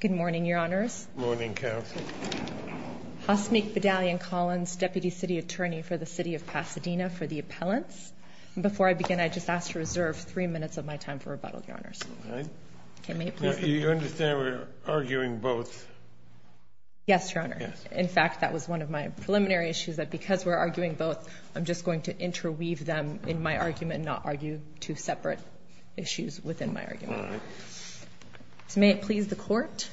Good morning, Your Honours. Good morning, Counsel. Hasmik Bedalyan-Collins, Deputy City Attorney for the City of Pasadena for the Appellants. Before I begin, I'd just ask to reserve three minutes of my time for rebuttal, Your Honours. All right. You understand we're arguing both? Yes, Your Honour. Yes. In fact, that was one of my preliminary issues, that because we're arguing both, I'm just going to interweave them in my argument and not argue two separate issues within my argument. All right. So may it please the Court,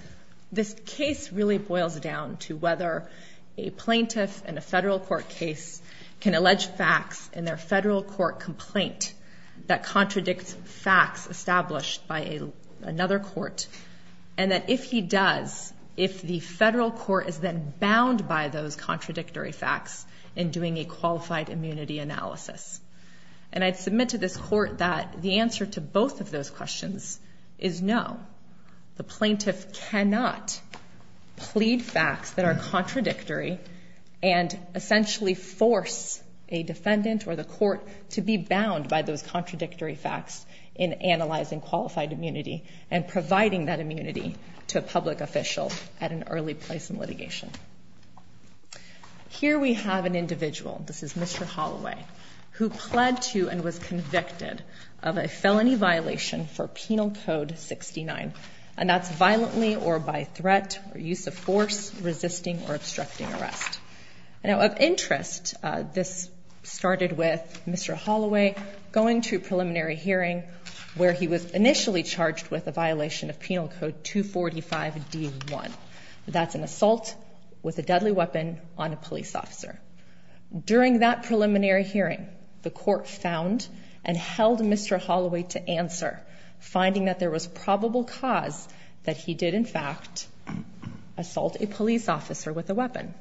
this case really boils down to whether a plaintiff in a federal court case can allege facts in their federal court complaint that contradict facts established by another court, and that if he does, if the federal court is then bound by those contradictory facts in doing a qualified immunity analysis. And I'd submit to this Court that the answer to both of those questions is no. The plaintiff cannot plead facts that are contradictory and essentially force a defendant or the court to be bound by those contradictory facts in analyzing qualified immunity and providing that immunity to a public official at an early place in litigation. Here we have an individual, this is Mr. Holloway, who pled to and was convicted of a felony violation for Penal Code 69, and that's violently or by threat or use of force resisting or obstructing arrest. Now, of interest, this started with Mr. Holloway going to a preliminary hearing where he was initially charged with a violation of Penal Code 245-D1. That's an assault with a deadly weapon on a police officer. During that preliminary hearing, the court found and held Mr. Holloway to answer, finding that there was probable cause that he did, in fact, assault a police officer with a weapon.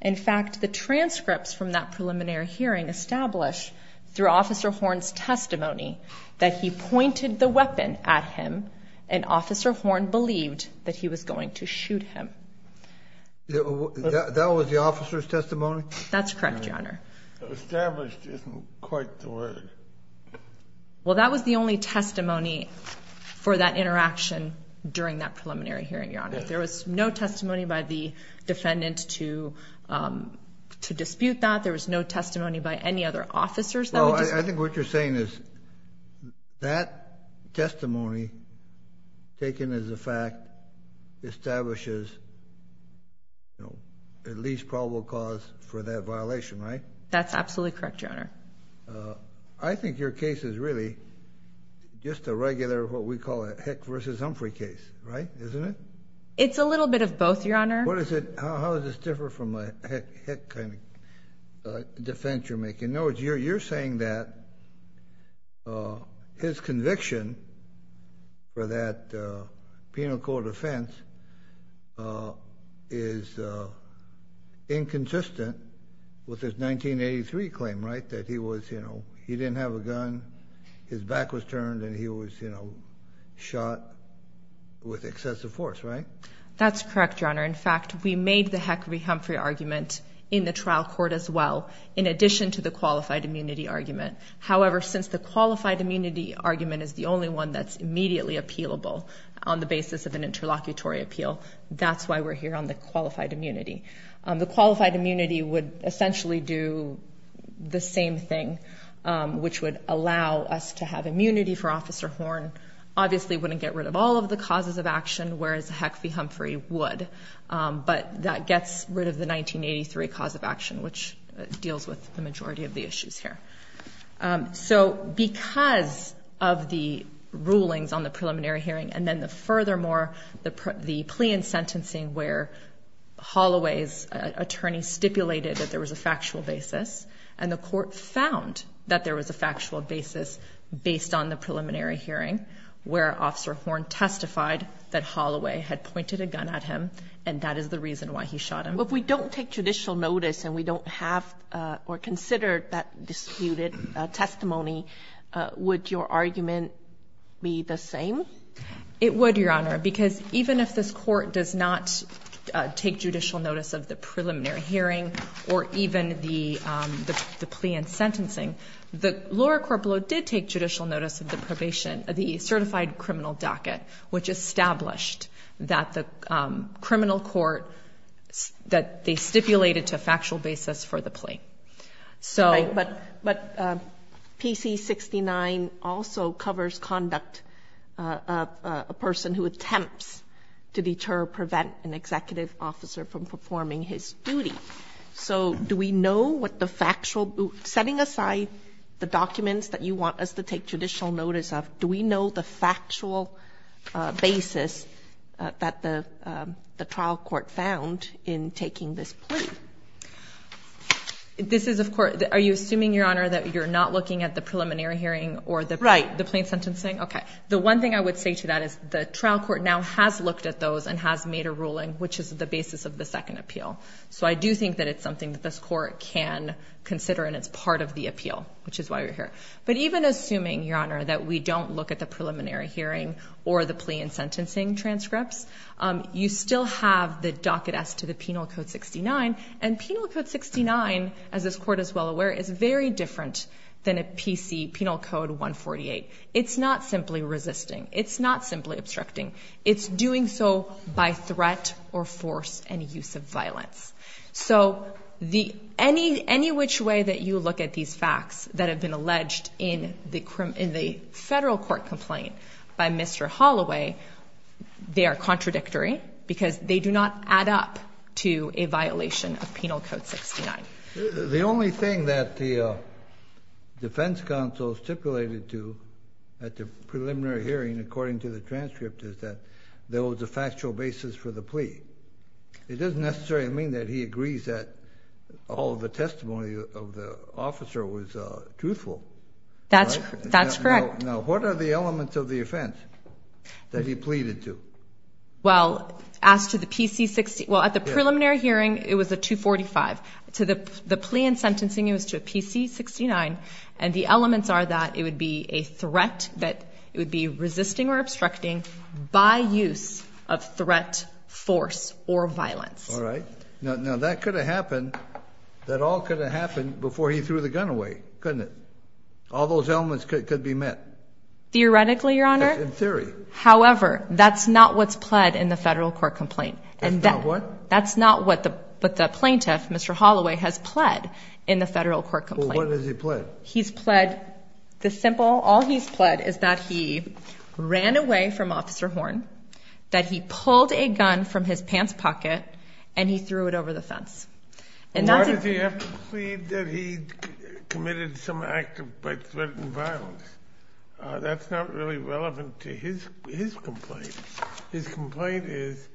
In fact, the transcripts from that preliminary hearing establish, through Officer Horn's testimony, that he pointed the weapon at him and Officer Horn believed that he was going to shoot him. That was the officer's testimony? That's correct, Your Honor. Established isn't quite the word. Well, that was the only testimony for that interaction during that preliminary hearing, Your Honor. There was no testimony by the defendant to dispute that. There was no testimony by any other officers. I think what you're saying is that testimony, taken as a fact, establishes at least probable cause for that violation, right? That's absolutely correct, Your Honor. I think your case is really just a regular, what we call a Heck v. Humphrey case, right? Isn't it? It's a little bit of both, Your Honor. In other words, you're saying that his conviction for that penal court offense is inconsistent with his 1983 claim, right? That he didn't have a gun, his back was turned, and he was shot with excessive force, right? That's correct, Your Honor. In fact, we made the Heck v. Humphrey argument in the trial court as well. In addition to the qualified immunity argument. However, since the qualified immunity argument is the only one that's immediately appealable on the basis of an interlocutory appeal, that's why we're here on the qualified immunity. The qualified immunity would essentially do the same thing, which would allow us to have immunity for Officer Horn. Obviously, it wouldn't get rid of all of the causes of action, whereas the Heck v. Humphrey would. But that gets rid of the 1983 cause of action, which deals with the majority of the issues here. So because of the rulings on the preliminary hearing, and then furthermore, the plea and sentencing where Holloway's attorney stipulated that there was a factual basis, and the court found that there was a factual basis based on the preliminary hearing, where Officer Horn testified that Holloway had pointed a gun at him, and that is the reason why he shot him. If we don't take judicial notice and we don't have or consider that disputed testimony, would your argument be the same? It would, Your Honor, because even if this court does not take judicial notice of the preliminary hearing, or even the plea and sentencing, Laura Corpolo did take judicial notice of the probation, the certified criminal docket, which established that the criminal court, that they stipulated to a factual basis for the plea. But PC-69 also covers conduct of a person who attempts to deter or prevent an executive officer from performing his duty. So do we know what the factual, setting aside the documents that you want us to take judicial notice of, do we know the factual basis that the trial court found in taking this plea? This is, of course, are you assuming, Your Honor, that you're not looking at the preliminary hearing or the plea and sentencing? Right. Okay. The one thing I would say to that is the trial court now has looked at those and has made a ruling, which is the basis of the second appeal. So I do think that it's something that this court can consider and it's part of the appeal, which is why we're here. But even assuming, Your Honor, that we don't look at the preliminary hearing or the plea and sentencing transcripts, you still have the docket S to the Penal Code 69. And Penal Code 69, as this court is well aware, is very different than a PC, Penal Code 148. It's not simply resisting. It's not simply obstructing. It's doing so by threat or force and use of violence. So any which way that you look at these facts that have been alleged in the federal court complaint by Mr. Holloway, they are contradictory because they do not add up to a violation of Penal Code 69. The only thing that the defense counsel stipulated to at the preliminary hearing, according to the transcript, is that there was a factual basis for the plea. It doesn't necessarily mean that he agrees that all the testimony of the officer was truthful. That's correct. Now, what are the elements of the offense that he pleaded to? Well, at the preliminary hearing, it was a 245. To the plea and sentencing, it was to a PC 69. And the elements are that it would be a threat, that it would be resisting or obstructing by use of threat, force, or violence. All right. Now, that could have happened. That all could have happened before he threw the gun away, couldn't it? All those elements could be met. Theoretically, Your Honor. In theory. However, that's not what's pled in the federal court complaint. That's not what? That's not what the plaintiff, Mr. Holloway, has pled in the federal court complaint. Well, what has he pled? He's pled the simple, all he's pled is that he ran away from Officer Horn, that he pulled a gun from his pants pocket, and he threw it over the fence. Why did he have to plead that he committed some act by threat and violence? That's not really relevant to his complaint. His complaint is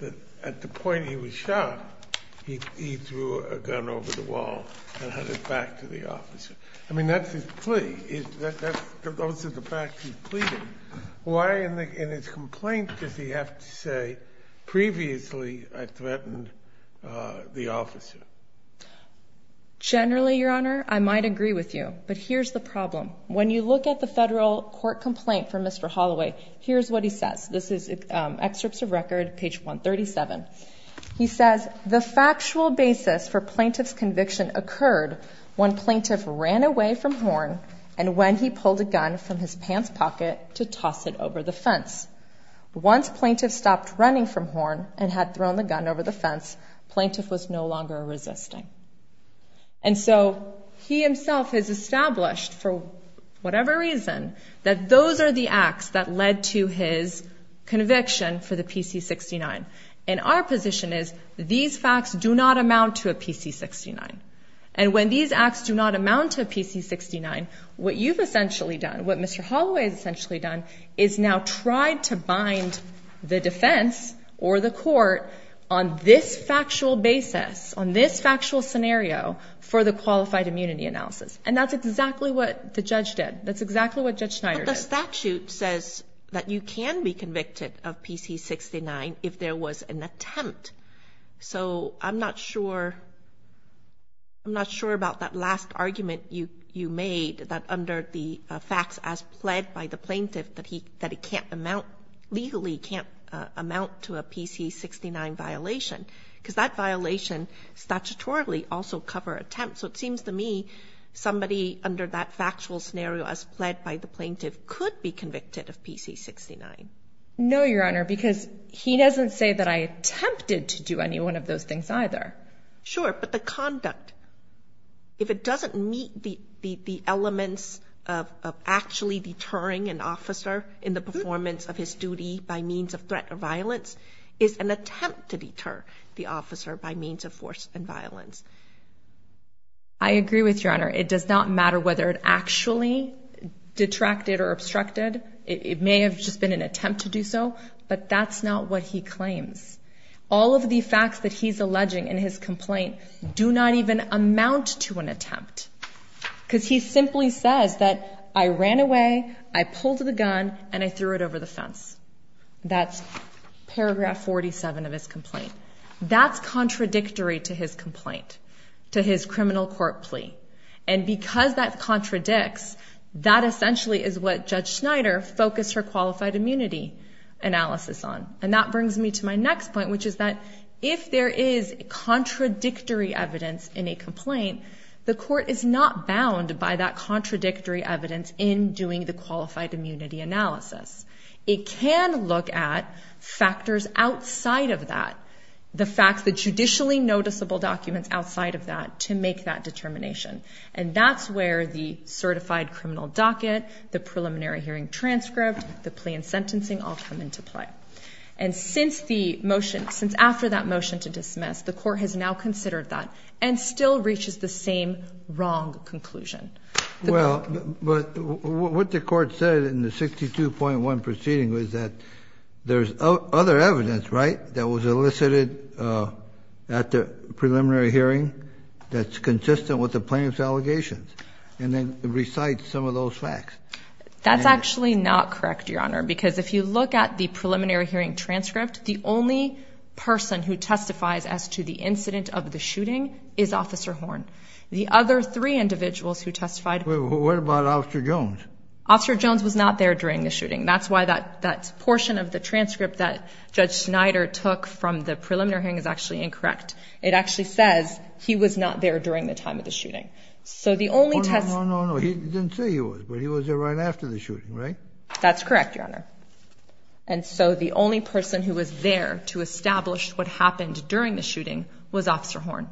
that at the point he was shot, he threw a gun over the wall and handed it back to the officer. I mean, that's his plea. Those are the facts he's pleading. Why in his complaint does he have to say, previously I threatened the officer? Generally, Your Honor, I might agree with you. But here's the problem. When you look at the federal court complaint for Mr. Holloway, here's what he says. This is excerpts of record, page 137. He says, The factual basis for plaintiff's conviction occurred when plaintiff ran away from Horn and when he pulled a gun from his pants pocket to toss it over the fence. Once plaintiff stopped running from Horn and had thrown the gun over the fence, plaintiff was no longer resisting. And so he himself has established, for whatever reason, that those are the acts that led to his conviction for the PC-69. And our position is these facts do not amount to a PC-69. And when these acts do not amount to a PC-69, what you've essentially done, what Mr. Holloway has essentially done, is now tried to bind the defense or the court on this factual basis, on this factual scenario for the qualified immunity analysis. And that's exactly what the judge did. That's exactly what Judge Schneider did. But the statute says that you can be convicted of PC-69 if there was an attempt. So I'm not sure about that last argument you made, that under the facts as pled by the plaintiff, that he legally can't amount to a PC-69 violation. Because that violation statutorily also cover attempts. So it seems to me somebody under that factual scenario as pled by the plaintiff could be convicted of PC-69. No, Your Honor, because he doesn't say that I attempted to do any one of those things either. Sure, but the conduct. If it doesn't meet the elements of actually deterring an officer in the performance of his duty by means of threat or violence, it's an attempt to deter the officer by means of force and violence. I agree with you, Your Honor. It does not matter whether it actually detracted or obstructed. It may have just been an attempt to do so, but that's not what he claims. All of the facts that he's alleging in his complaint do not even amount to an attempt. Because he simply says that I ran away, I pulled the gun, and I threw it over the fence. That's paragraph 47 of his complaint. That's contradictory to his complaint, to his criminal court plea. And because that contradicts, that essentially is what Judge Schneider focused her qualified immunity analysis on. And that brings me to my next point, which is that if there is contradictory evidence in a complaint, the court is not bound by that contradictory evidence in doing the qualified immunity analysis. It can look at factors outside of that, the facts, the judicially noticeable documents outside of that, to make that determination. And that's where the certified criminal docket, the preliminary hearing transcript, the plea and sentencing all come into play. And since the motion, since after that motion to dismiss, the court has now considered that and still reaches the same wrong conclusion. Well, but what the court said in the 62.1 proceeding was that there's other evidence, right, that was elicited at the preliminary hearing that's consistent with the plaintiff's allegations and then recites some of those facts. That's actually not correct, Your Honor, because if you look at the preliminary hearing transcript, the only person who testifies as to the incident of the shooting is Officer Horn. The other three individuals who testified... Well, what about Officer Jones? Officer Jones was not there during the shooting. That's why that portion of the transcript that Judge Schneider took from the preliminary hearing is actually incorrect. It actually says he was not there during the time of the shooting. Oh, no, no, no, he didn't say he was, but he was there right after the shooting, right? That's correct, Your Honor. And so the only person who was there to establish what happened during the shooting was Officer Horn.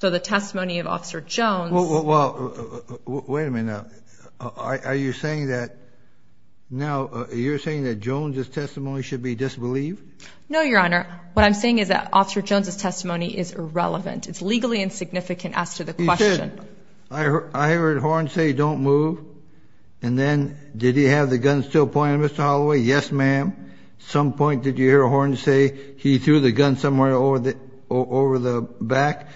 So the testimony of Officer Jones... Well, wait a minute now. Are you saying that Jones' testimony should be disbelieved? No, Your Honor. What I'm saying is that Officer Jones' testimony is irrelevant. It's legally insignificant as to the question. I heard Horn say, don't move, and then did he have the gun still pointed at Mr. Holloway? Yes, ma'am. At some point did you hear Horn say he threw the gun somewhere over the back?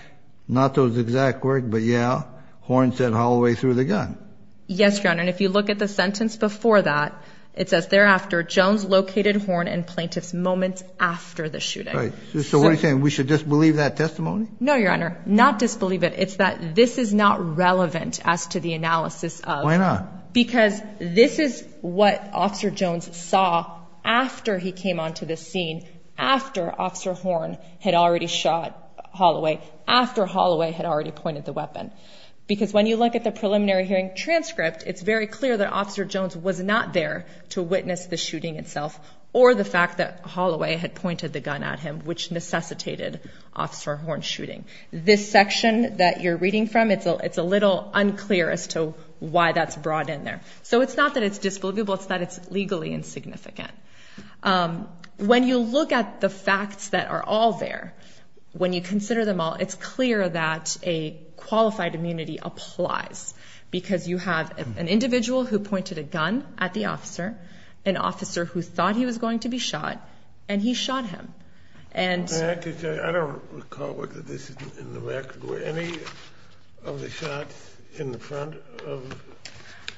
Not those exact words, but yeah, Horn said Holloway threw the gun. Yes, Your Honor, and if you look at the sentence before that, it says thereafter Jones located Horn and plaintiff's moments after the shooting. So what are you saying, we should disbelieve that testimony? No, Your Honor, not disbelieve it. It's that this is not relevant as to the analysis of... Why not? Because this is what Officer Jones saw after he came onto the scene, after Officer Horn had already shot Holloway, after Holloway had already pointed the weapon. Because when you look at the preliminary hearing transcript, it's very clear that Officer Jones was not there to witness the shooting itself or the fact that Holloway had pointed the gun at him, which necessitated Officer Horn's shooting. This section that you're reading from, it's a little unclear as to why that's brought in there. So it's not that it's disbelievable. It's that it's legally insignificant. When you look at the facts that are all there, when you consider them all, it's clear that a qualified immunity applies because you have an individual who pointed a gun at the officer, an officer who thought he was going to be shot, and he shot him. And... I don't recall whether this is in the record. Were any of the shots in the front?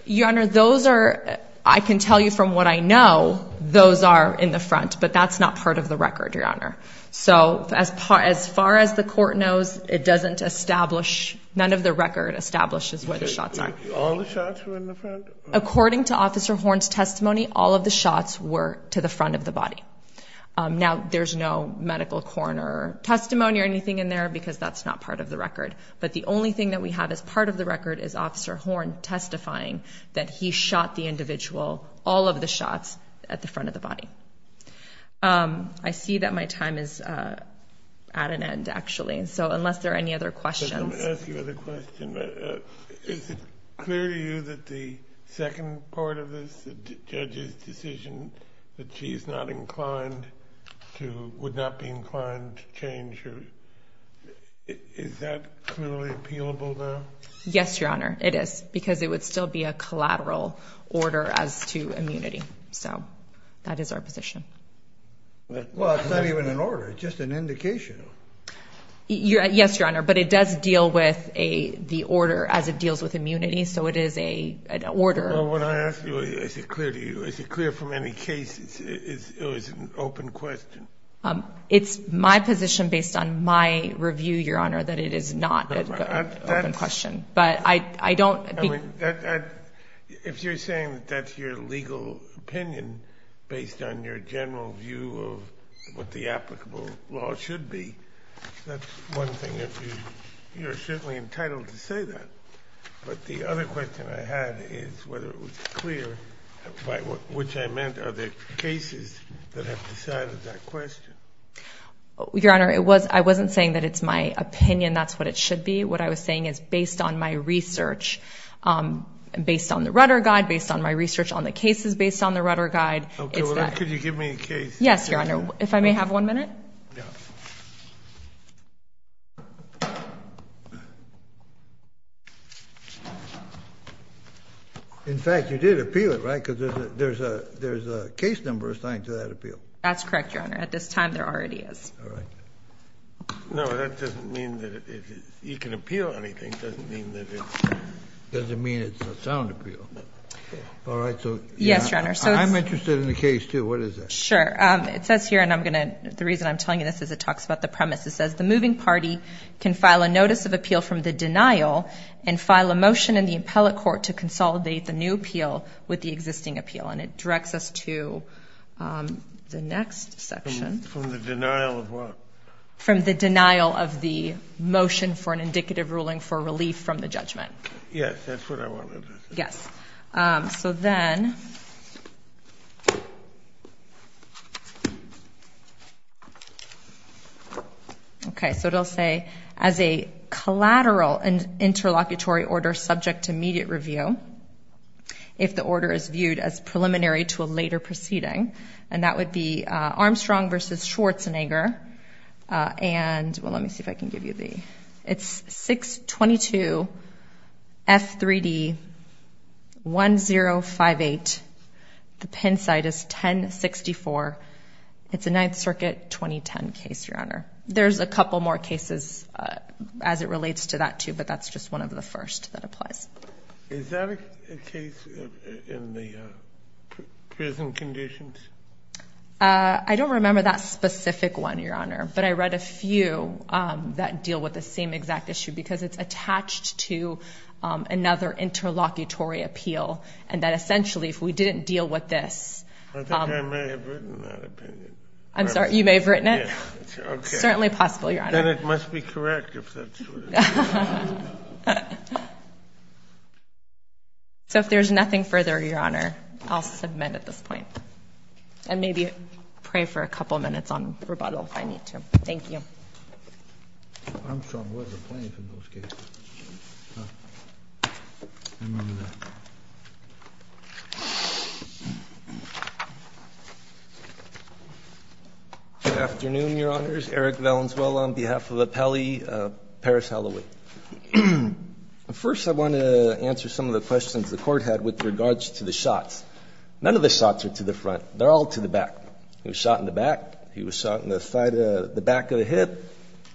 Your Honor, those are, I can tell you from what I know, those are in the front. But that's not part of the record, Your Honor. So as far as the court knows, it doesn't establish, none of the record establishes where the shots are. All the shots were in the front? According to Officer Horn's testimony, all of the shots were to the front of the body. Now, there's no medical coroner testimony or anything in there because that's not part of the record. But the only thing that we have as part of the record is Officer Horn testifying that he shot the individual, all of the shots, at the front of the body. I see that my time is at an end, actually. So unless there are any other questions. Let me ask you another question. Is it clear to you that the second part of this, the judge's decision that she's not inclined to, would not be inclined to change her, is that clearly appealable now? Yes, Your Honor, it is because it would still be a collateral order as to immunity. So that is our position. Well, it's not even an order. It's just an indication. Yes, Your Honor, but it does deal with the order as it deals with immunity. So it is an order. Well, when I ask you, is it clear to you, is it clear from any case it was an open question? It's my position based on my review, Your Honor, that it is not an open question. But I don't believe. If you're saying that that's your legal opinion, based on your general view of what the applicable law should be, that's one thing that you're certainly entitled to say that. But the other question I had is whether it was clear, by which I meant, are there cases that have decided that question? Your Honor, I wasn't saying that it's my opinion, that's what it should be. What I was saying is based on my research, based on the rudder guide, based on my research on the cases based on the rudder guide. Okay. Could you give me a case? Yes, Your Honor. If I may have one minute? Yes. In fact, you did appeal it, right? Because there's a case number assigned to that appeal. That's correct, Your Honor. At this time, there already is. All right. No, that doesn't mean that you can appeal anything. It doesn't mean that it's a sound appeal. All right. Yes, Your Honor. I'm interested in the case, too. What is it? Sure. It says here, and the reason I'm telling you this is it talks about the premise. It says the moving party can file a notice of appeal from the denial and file a motion in the appellate court to consolidate the new appeal with the existing appeal. And it directs us to the next section. From the denial of what? From the denial of the motion for an indicative ruling for relief from the judgment. Yes, that's what I wanted to say. Yes. So then, okay, so it will say, as a collateral interlocutory order subject to immediate review, if the order is viewed as preliminary to a later proceeding, and that would be Armstrong v. Schwarzenegger. And let me see if I can give you the, it's 622F3D1058. The pin site is 1064. It's a Ninth Circuit 2010 case, Your Honor. There's a couple more cases as it relates to that, too, but that's just one of the first that applies. Is that a case in the prison conditions? I don't remember that specific one, Your Honor, but I read a few that deal with the same exact issue because it's attached to another interlocutory appeal, and that essentially if we didn't deal with this. I think I may have written that opinion. I'm sorry, you may have written it? Yes. It's certainly possible, Your Honor. Then it must be correct if that's what it is. So if there's nothing further, Your Honor, I'll submit at this point. And maybe pray for a couple minutes on rebuttal if I need to. Thank you. Armstrong was a plaintiff in those cases. I remember that. Good afternoon, Your Honors. First I want to answer some of the questions the Court had with regards to the shots. None of the shots are to the front. They're all to the back. He was shot in the back. He was shot in the back of the hip,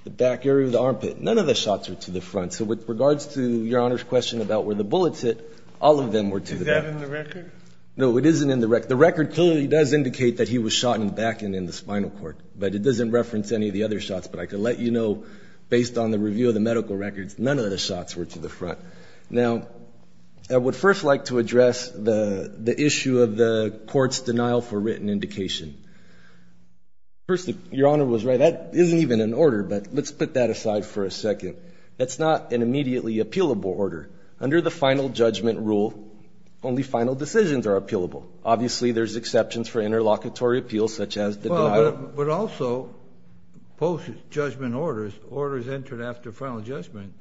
the back area of the armpit. None of the shots are to the front. So with regards to Your Honor's question about where the bullets hit, all of them were to the back. Is that in the record? No, it isn't in the record. The record clearly does indicate that he was shot in the back and in the spinal cord, but it doesn't reference any of the other shots. But I can let you know, based on the review of the medical records, none of the shots were to the front. Now, I would first like to address the issue of the Court's denial for written indication. First, Your Honor was right. That isn't even an order, but let's put that aside for a second. That's not an immediately appealable order. Under the final judgment rule, only final decisions are appealable. Obviously, there's exceptions for interlocutory appeals such as the denial. But also, post-judgment orders, orders entered after final judgment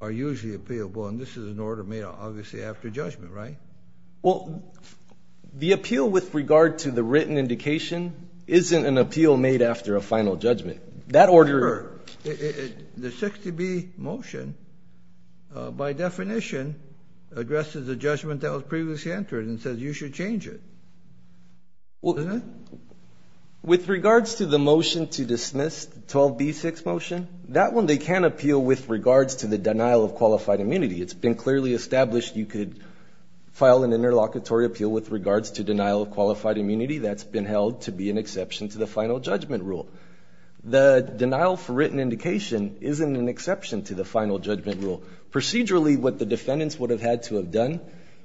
are usually appealable, and this is an order made, obviously, after judgment, right? Well, the appeal with regard to the written indication isn't an appeal made after a final judgment. That order ---- Sure. The 60B motion, by definition, addresses a judgment that was previously entered and says you should change it. Well, with regards to the motion to dismiss, 12B6 motion, that one they can appeal with regards to the denial of qualified immunity. It's been clearly established you could file an interlocutory appeal with regards to denial of qualified immunity. That's been held to be an exception to the final judgment rule. The denial for written indication isn't an exception to the final judgment rule. Procedurally, what the defendants would have had to have done,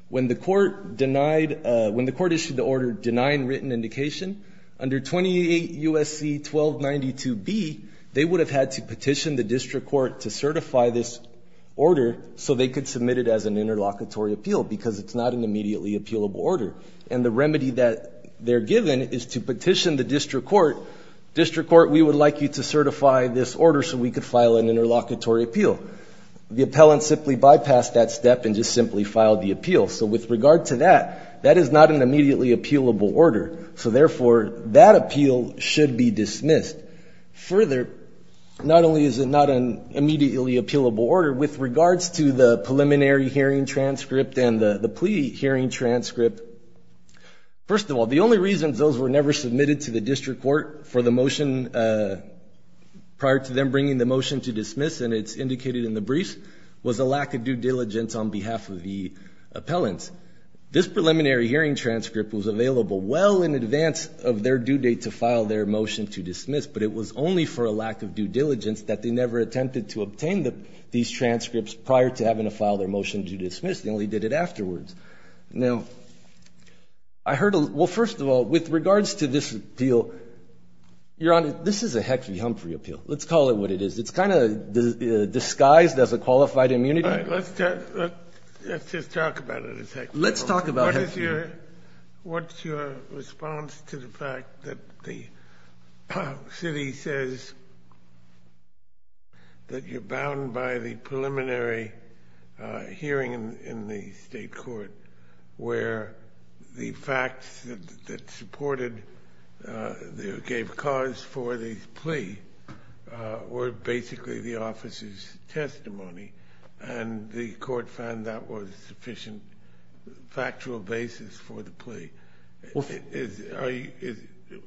when the court issued the order denying written indication, under 28 U.S.C. 1292B, they would have had to petition the district court to certify this order so they could submit it as an interlocutory appeal because it's not an immediately appealable order. And the remedy that they're given is to petition the district court, district court, we would like you to certify this order so we could file an interlocutory appeal. The appellant simply bypassed that step and just simply filed the appeal. So with regard to that, that is not an immediately appealable order. So, therefore, that appeal should be dismissed. Further, not only is it not an immediately appealable order, with regards to the preliminary hearing transcript and the plea hearing transcript, first of all, the only reasons those were never submitted to the district court for the motion prior to them bringing the motion to dismiss and it's indicated in the briefs, was a lack of due diligence on behalf of the appellants. This preliminary hearing transcript was available well in advance of their due date to file their motion to dismiss, but it was only for a lack of due diligence that they never attempted to obtain these transcripts prior to having to file their motion to dismiss. They only did it afterwards. Now, I heard a little – well, first of all, with regards to this appeal, Your Honor, this is a Heck v. Humphrey appeal. Let's call it what it is. It's kind of disguised as a qualified immunity. All right. Let's just talk about it a second. Let's talk about Heck v. Humphrey. What's your response to the fact that the city says that you're bound by the preliminary hearing in the state court where the facts that supported or gave cause for the plea were basically the officer's testimony and the court found that was sufficient factual basis for the plea?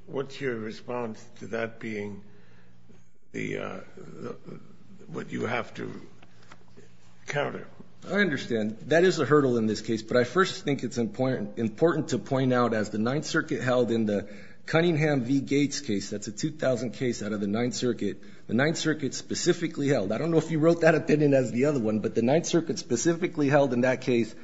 What's your response to that being what you have to counter? I understand. That is a hurdle in this case, but I first think it's important to point out, as the Ninth Circuit held in the Cunningham v. Gates case, that's a 2000 case out of the Ninth Circuit, the Ninth Circuit specifically held – I don't know if you wrote that opinion as the other one, but the Ninth Circuit specifically held in that case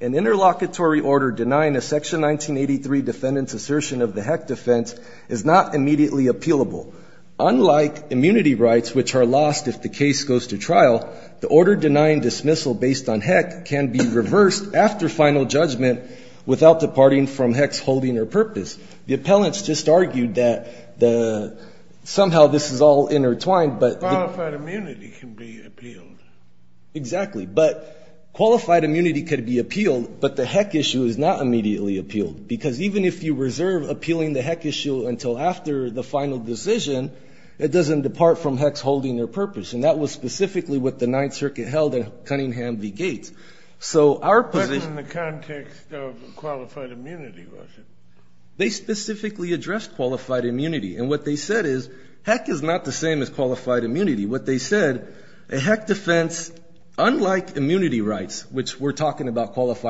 an interlocutory order denying a Section 1983 defendant's assertion of the Heck defense is not immediately appealable. Unlike immunity rights, which are lost if the case goes to trial, the order denying dismissal based on Heck can be reversed after final judgment without departing from Heck's holding or purpose. The appellants just argued that somehow this is all intertwined. Qualified immunity can be appealed. Exactly. But qualified immunity could be appealed, but the Heck issue is not immediately appealed, because even if you reserve appealing the Heck issue until after the final decision, it doesn't depart from Heck's holding or purpose. And that was specifically what the Ninth Circuit held in Cunningham v. Gates. So our position – But in the context of qualified immunity, was it? They specifically addressed qualified immunity. And what they said is Heck is not the same as qualified immunity. What they said, a Heck defense, unlike immunity rights, which we're talking about which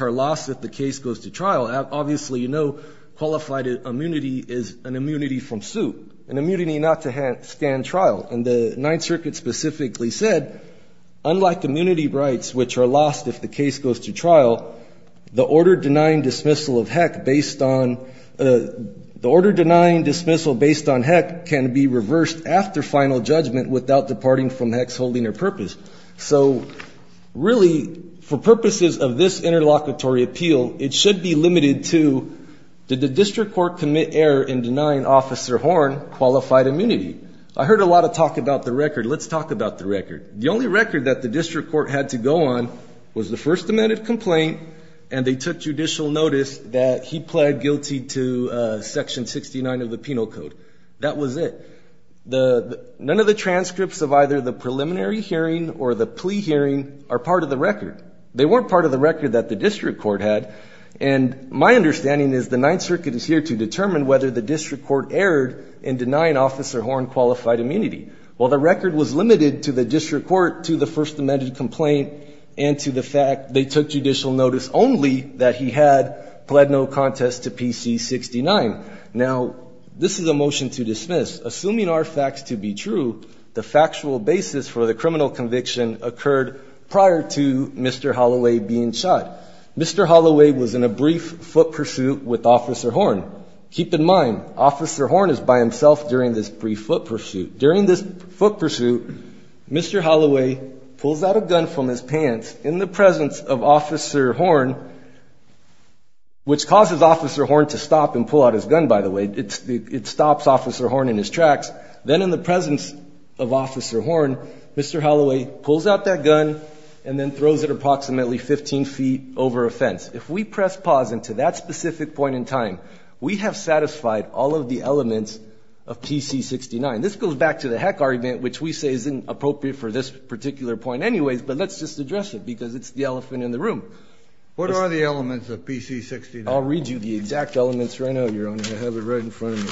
are lost if the case goes to trial, obviously you know qualified immunity is an immunity from suit, an immunity not to stand trial. And the Ninth Circuit specifically said, unlike immunity rights, which are lost if the case goes to trial, the order denying dismissal based on Heck can be reversed after final judgment without departing from Heck's holding or purpose. So really, for purposes of this interlocutory appeal, it should be limited to, did the district court commit error in denying Officer Horn qualified immunity? I heard a lot of talk about the record. Let's talk about the record. The only record that the district court had to go on was the first amended complaint, and they took judicial notice that he pled guilty to Section 69 of the Penal Code. That was it. None of the transcripts of either the preliminary hearing or the plea hearing are part of the record. They weren't part of the record that the district court had. And my understanding is the Ninth Circuit is here to determine whether the district court erred in denying Officer Horn qualified immunity. Well, the record was limited to the district court, to the first amended complaint, and to the fact they took judicial notice only that he had pled no contest to PC69. Now, this is a motion to dismiss. Assuming our facts to be true, the factual basis for the criminal conviction occurred prior to Mr. Holloway being shot. Mr. Holloway was in a brief foot pursuit with Officer Horn. Keep in mind, Officer Horn is by himself during this brief foot pursuit. During this foot pursuit, Mr. Holloway pulls out a gun from his pants in the presence of Officer Horn. He pulls out his gun, by the way. It stops Officer Horn in his tracks. Then in the presence of Officer Horn, Mr. Holloway pulls out that gun and then throws it approximately 15 feet over a fence. If we press pause until that specific point in time, we have satisfied all of the elements of PC69. This goes back to the heck argument, which we say isn't appropriate for this particular point anyways, but let's just address it because it's the elephant in the room. What are the elements of PC69? I'll read you the exact elements right now, Your Honor. I have it right in front of me.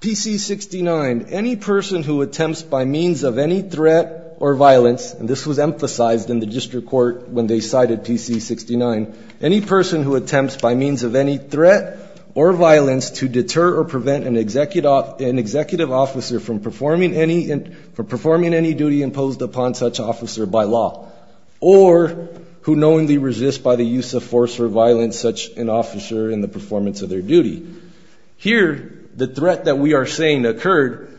PC69, any person who attempts by means of any threat or violence, and this was emphasized in the district court when they cited PC69, any person who attempts by means of any threat or violence to deter or prevent an executive officer from performing any duty imposed upon such officer by law, or who knowingly resists by the use of force or violence such an officer in the performance of their duty. Here, the threat that we are saying occurred.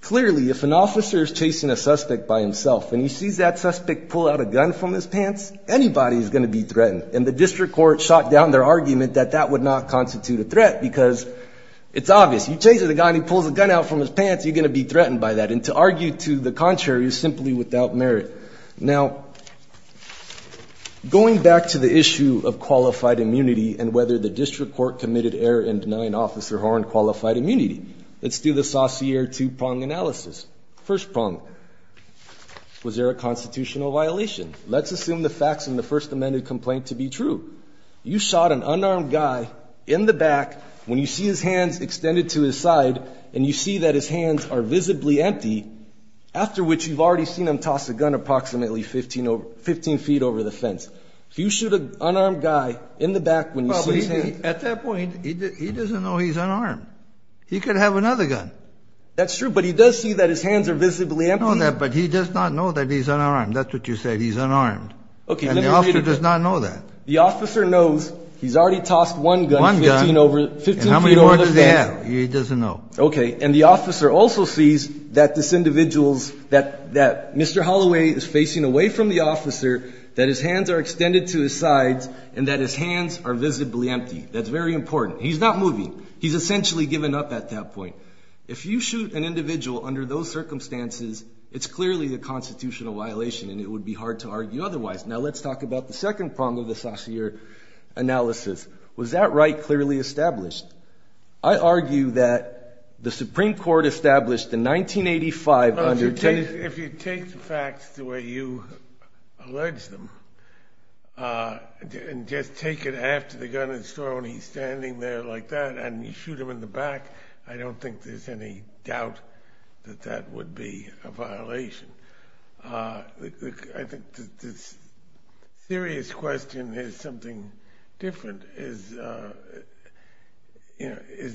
Clearly, if an officer is chasing a suspect by himself and he sees that suspect pull out a gun from his pants, anybody is going to be threatened, and the district court shot down their argument that that would not constitute a threat because it's obvious. You chase a guy and he pulls a gun out from his pants, you're going to be threatened by that. And to argue to the contrary is simply without merit. Now, going back to the issue of qualified immunity and whether the district court committed error in denying Officer Horne qualified immunity, let's do the Saussure two-prong analysis. First prong, was there a constitutional violation? Let's assume the facts in the First Amendment complaint to be true. You shot an unarmed guy in the back. When you see his hands extended to his side and you see that his hands are visibly empty, after which you've already seen him toss a gun approximately 15 feet over the fence. If you shoot an unarmed guy in the back when you see his hands... At that point, he doesn't know he's unarmed. He could have another gun. That's true, but he does see that his hands are visibly empty. But he does not know that he's unarmed. That's what you said, he's unarmed. And the officer does not know that. The officer knows he's already tossed one gun 15 feet over the fence. He doesn't know. Okay. And the officer also sees that this individual's, that Mr. Holloway is facing away from the officer, that his hands are extended to his sides, and that his hands are visibly empty. That's very important. He's not moving. He's essentially given up at that point. If you shoot an individual under those circumstances, it's clearly a constitutional violation, and it would be hard to argue otherwise. Now let's talk about the second problem of the Saussure analysis. Was that right clearly established? I argue that the Supreme Court established in 1985 under Tennessee... If you take the facts the way you allege them and just take it after the gun is thrown, he's standing there like that, and you shoot him in the back, I don't think there's any doubt that that would be a violation. I think the serious question is something different. Is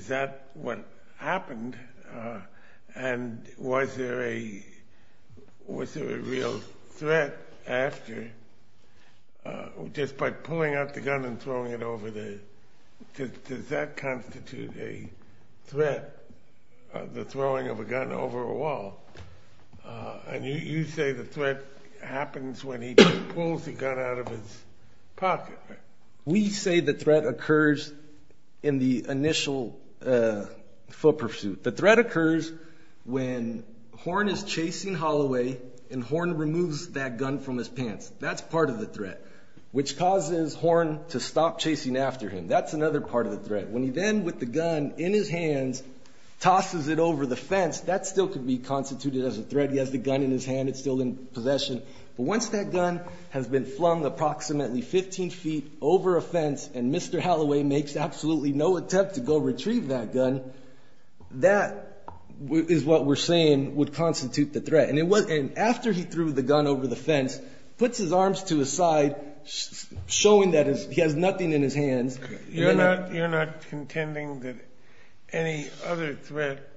that what happened, and was there a real threat after? Just by pulling out the gun and throwing it over the... Does that constitute a threat, the throwing of a gun over a wall? You say the threat happens when he pulls the gun out of his pocket. We say the threat occurs in the initial foot pursuit. The threat occurs when Horn is chasing Holloway, and Horn removes that gun from his pants. That's part of the threat, which causes Horn to stop chasing after him. That's another part of the threat. When he then, with the gun in his hands, tosses it over the fence, that still could be constituted as a threat. He has the gun in his hand. It's still in possession. But once that gun has been flung approximately 15 feet over a fence and Mr. Holloway makes absolutely no attempt to go retrieve that gun, that is what we're saying would constitute the threat. And after he threw the gun over the fence, puts his arms to his side, showing that he has nothing in his hands... You're not contending that any other threat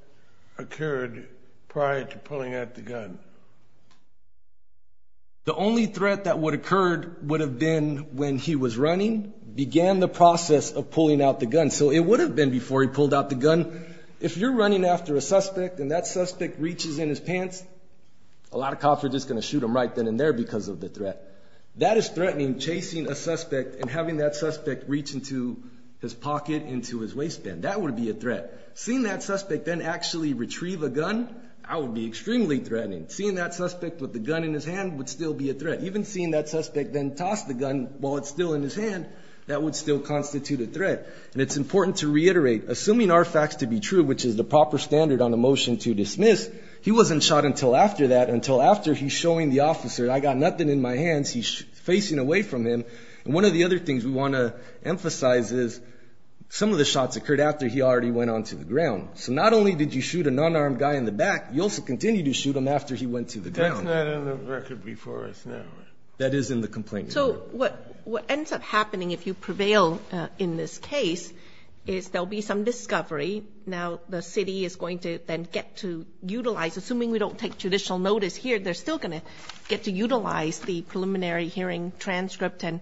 occurred prior to pulling out the gun? The only threat that would have occurred would have been when he was running, began the process of pulling out the gun. So it would have been before he pulled out the gun. If you're running after a suspect and that suspect reaches in his pants, a lot of cops are just going to shoot him right then and there because of the threat. That is threatening, chasing a suspect and having that suspect reach into his pocket, into his waistband. That would be a threat. Seeing that suspect then actually retrieve a gun, that would be extremely threatening. Seeing that suspect with the gun in his hand would still be a threat. Even seeing that suspect then toss the gun while it's still in his hand, that would still constitute a threat. And it's important to reiterate, assuming our facts to be true, which is the proper standard on a motion to dismiss, he wasn't shot until after that, until after he's showing the officer, I got nothing in my hands, he's facing away from him. And one of the other things we want to emphasize is some of the shots occurred after he already went onto the ground. So not only did you shoot a non-armed guy in the back, you also continued to shoot him after he went to the ground. That's not on the record before us now. That is in the complaint. So what ends up happening, if you prevail in this case, is there will be some discovery. Now the city is going to then get to utilize, assuming we don't take judicial notice here, they're still going to get to utilize the preliminary hearing transcript and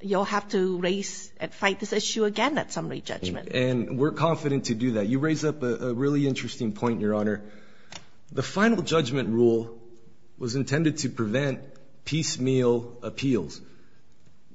you'll have to raise and fight this issue again at summary judgment. And we're confident to do that. You raise up a really interesting point, Your Honor. The final judgment rule was intended to prevent piecemeal appeals.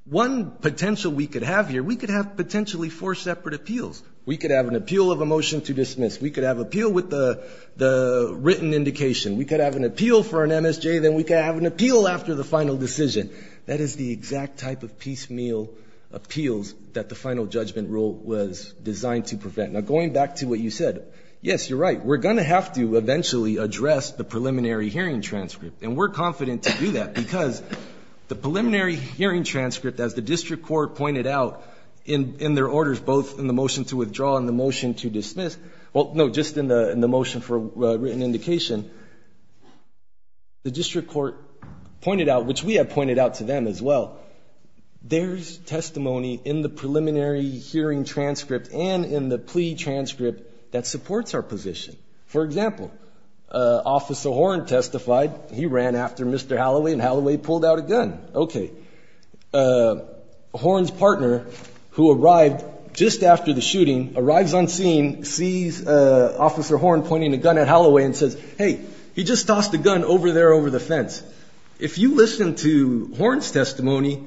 One potential we could have here, we could have potentially four separate appeals. We could have an appeal of a motion to dismiss. We could have appeal with the written indication. We could have an appeal for an MSJ. Then we could have an appeal after the final decision. That is the exact type of piecemeal appeals that the final judgment rule was designed to prevent. Now, going back to what you said, yes, you're right. We're going to have to eventually address the preliminary hearing transcript. And we're confident to do that because the preliminary hearing transcript, as the district court pointed out in their orders, both in the motion to withdraw and the motion to dismiss, well, no, just in the motion for written indication, the district court pointed out, which we have pointed out to them as well, there's testimony in the preliminary hearing transcript and in the plea transcript that supports our position. For example, Officer Horne testified. He ran after Mr. Halloway, and Halloway pulled out a gun. Okay. Horne's partner, who arrived just after the shooting, arrives on scene, sees Officer Horne pointing a gun at Halloway and says, hey, he just tossed a gun over there over the fence. If you listen to Horne's testimony,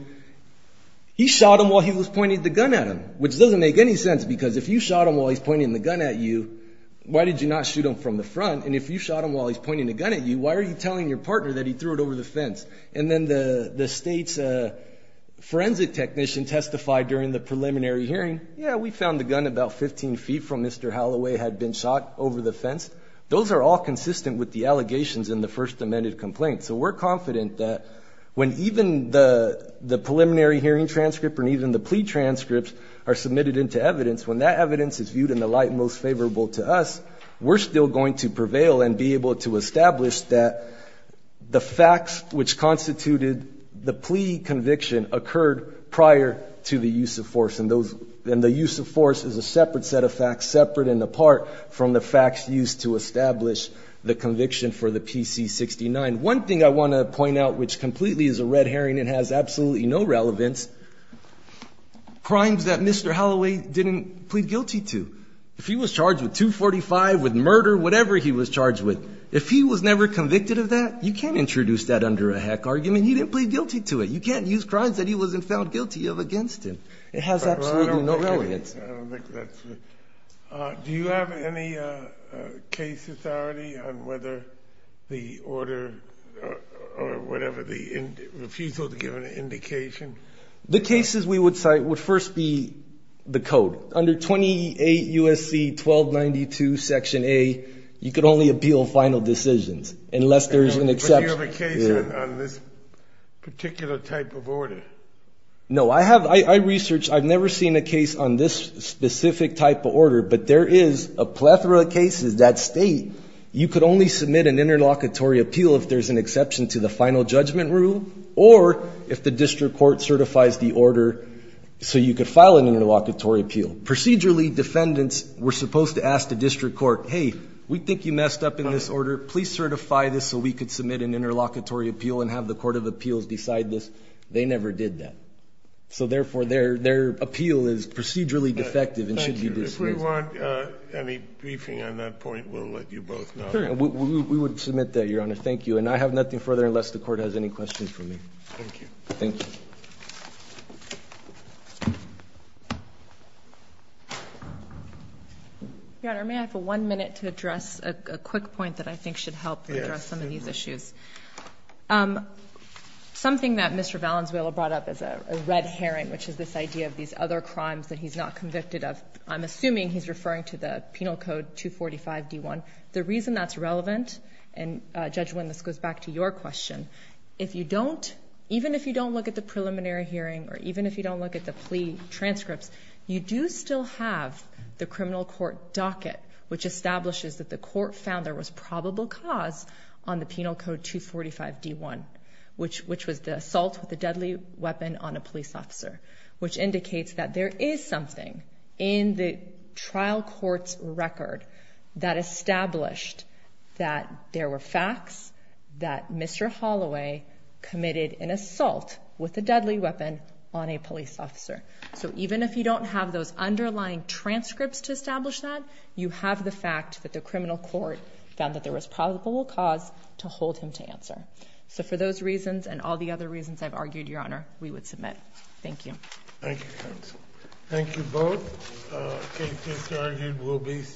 he shot him while he was pointing the gun at him, which doesn't make any sense because if you shot him while he's pointing the gun at you, why did you not shoot him from the front? And if you shot him while he's pointing the gun at you, why are you telling your partner that he threw it over the fence? And then the state's forensic technician testified during the preliminary hearing, yeah, we found the gun about 15 feet from Mr. Halloway had been shot over the fence. Those are all consistent with the allegations in the first amended complaint. So we're confident that when even the preliminary hearing transcript or even the plea transcripts are submitted into evidence, when that evidence is viewed in the light most favorable to us, we're still going to prevail and be able to establish that the facts which constituted the plea conviction occurred prior to the use of force. And the use of force is a separate set of facts, separate and apart from the facts used to establish the conviction for the PC-69. One thing I want to point out, which completely is a red herring and has absolutely no relevance, crimes that Mr. Halloway didn't plead guilty to. If he was charged with 245 with murder, whatever he was charged with, if he was never convicted of that, you can't introduce that under a heck argument. He didn't plead guilty to it. You can't use crimes that he wasn't found guilty of against him. It has absolutely no relevance. Do you have any case authority on whether the order or whatever the refusal to give an indication? The cases we would cite would first be the code. Under 28 U.S.C. 1292, Section A, you could only appeal final decisions unless there is an exception. Do you have a case on this particular type of order? No. I research. I've never seen a case on this specific type of order. But there is a plethora of cases that state you could only submit an interlocutory appeal if there's an exception to the final judgment rule or if the district court certifies the order so you could file an interlocutory appeal. Procedurally, defendants were supposed to ask the district court, hey, we think you messed up in this order. Please certify this so we could submit an interlocutory appeal and have the court of appeals decide this. They never did that. So, therefore, their appeal is procedurally defective and should be dismissed. If we want any briefing on that point, we'll let you both know. We would submit that, Your Honor. Thank you. And I have nothing further unless the court has any questions for me. Thank you. Thank you. Your Honor, may I have one minute to address a quick point that I think should help address some of these issues? Yes. Something that Mr. Valenzuela brought up is a red herring, which is this idea of these other crimes that he's not convicted of. I'm assuming he's referring to the Penal Code 245-D1. The reason that's relevant, and, Judge Wynn, this goes back to your question, even if you don't look at the preliminary hearing or even if you don't look at the plea transcripts, you do still have the criminal court docket, which establishes that the court found there was probable cause on the Penal Code 245-D1, which was the assault with a deadly weapon on a police officer, which indicates that there is something in the trial court's record that established that there were facts that Mr. Holloway committed an assault with a deadly weapon on a police officer. So even if you don't have those underlying transcripts to establish that, you have the fact that the criminal court found that there was probable cause to hold him to answer. So for those reasons and all the other reasons I've argued, Your Honor, we would submit. Thank you. Thank you, counsel. Thank you both. Okay. This argument will be.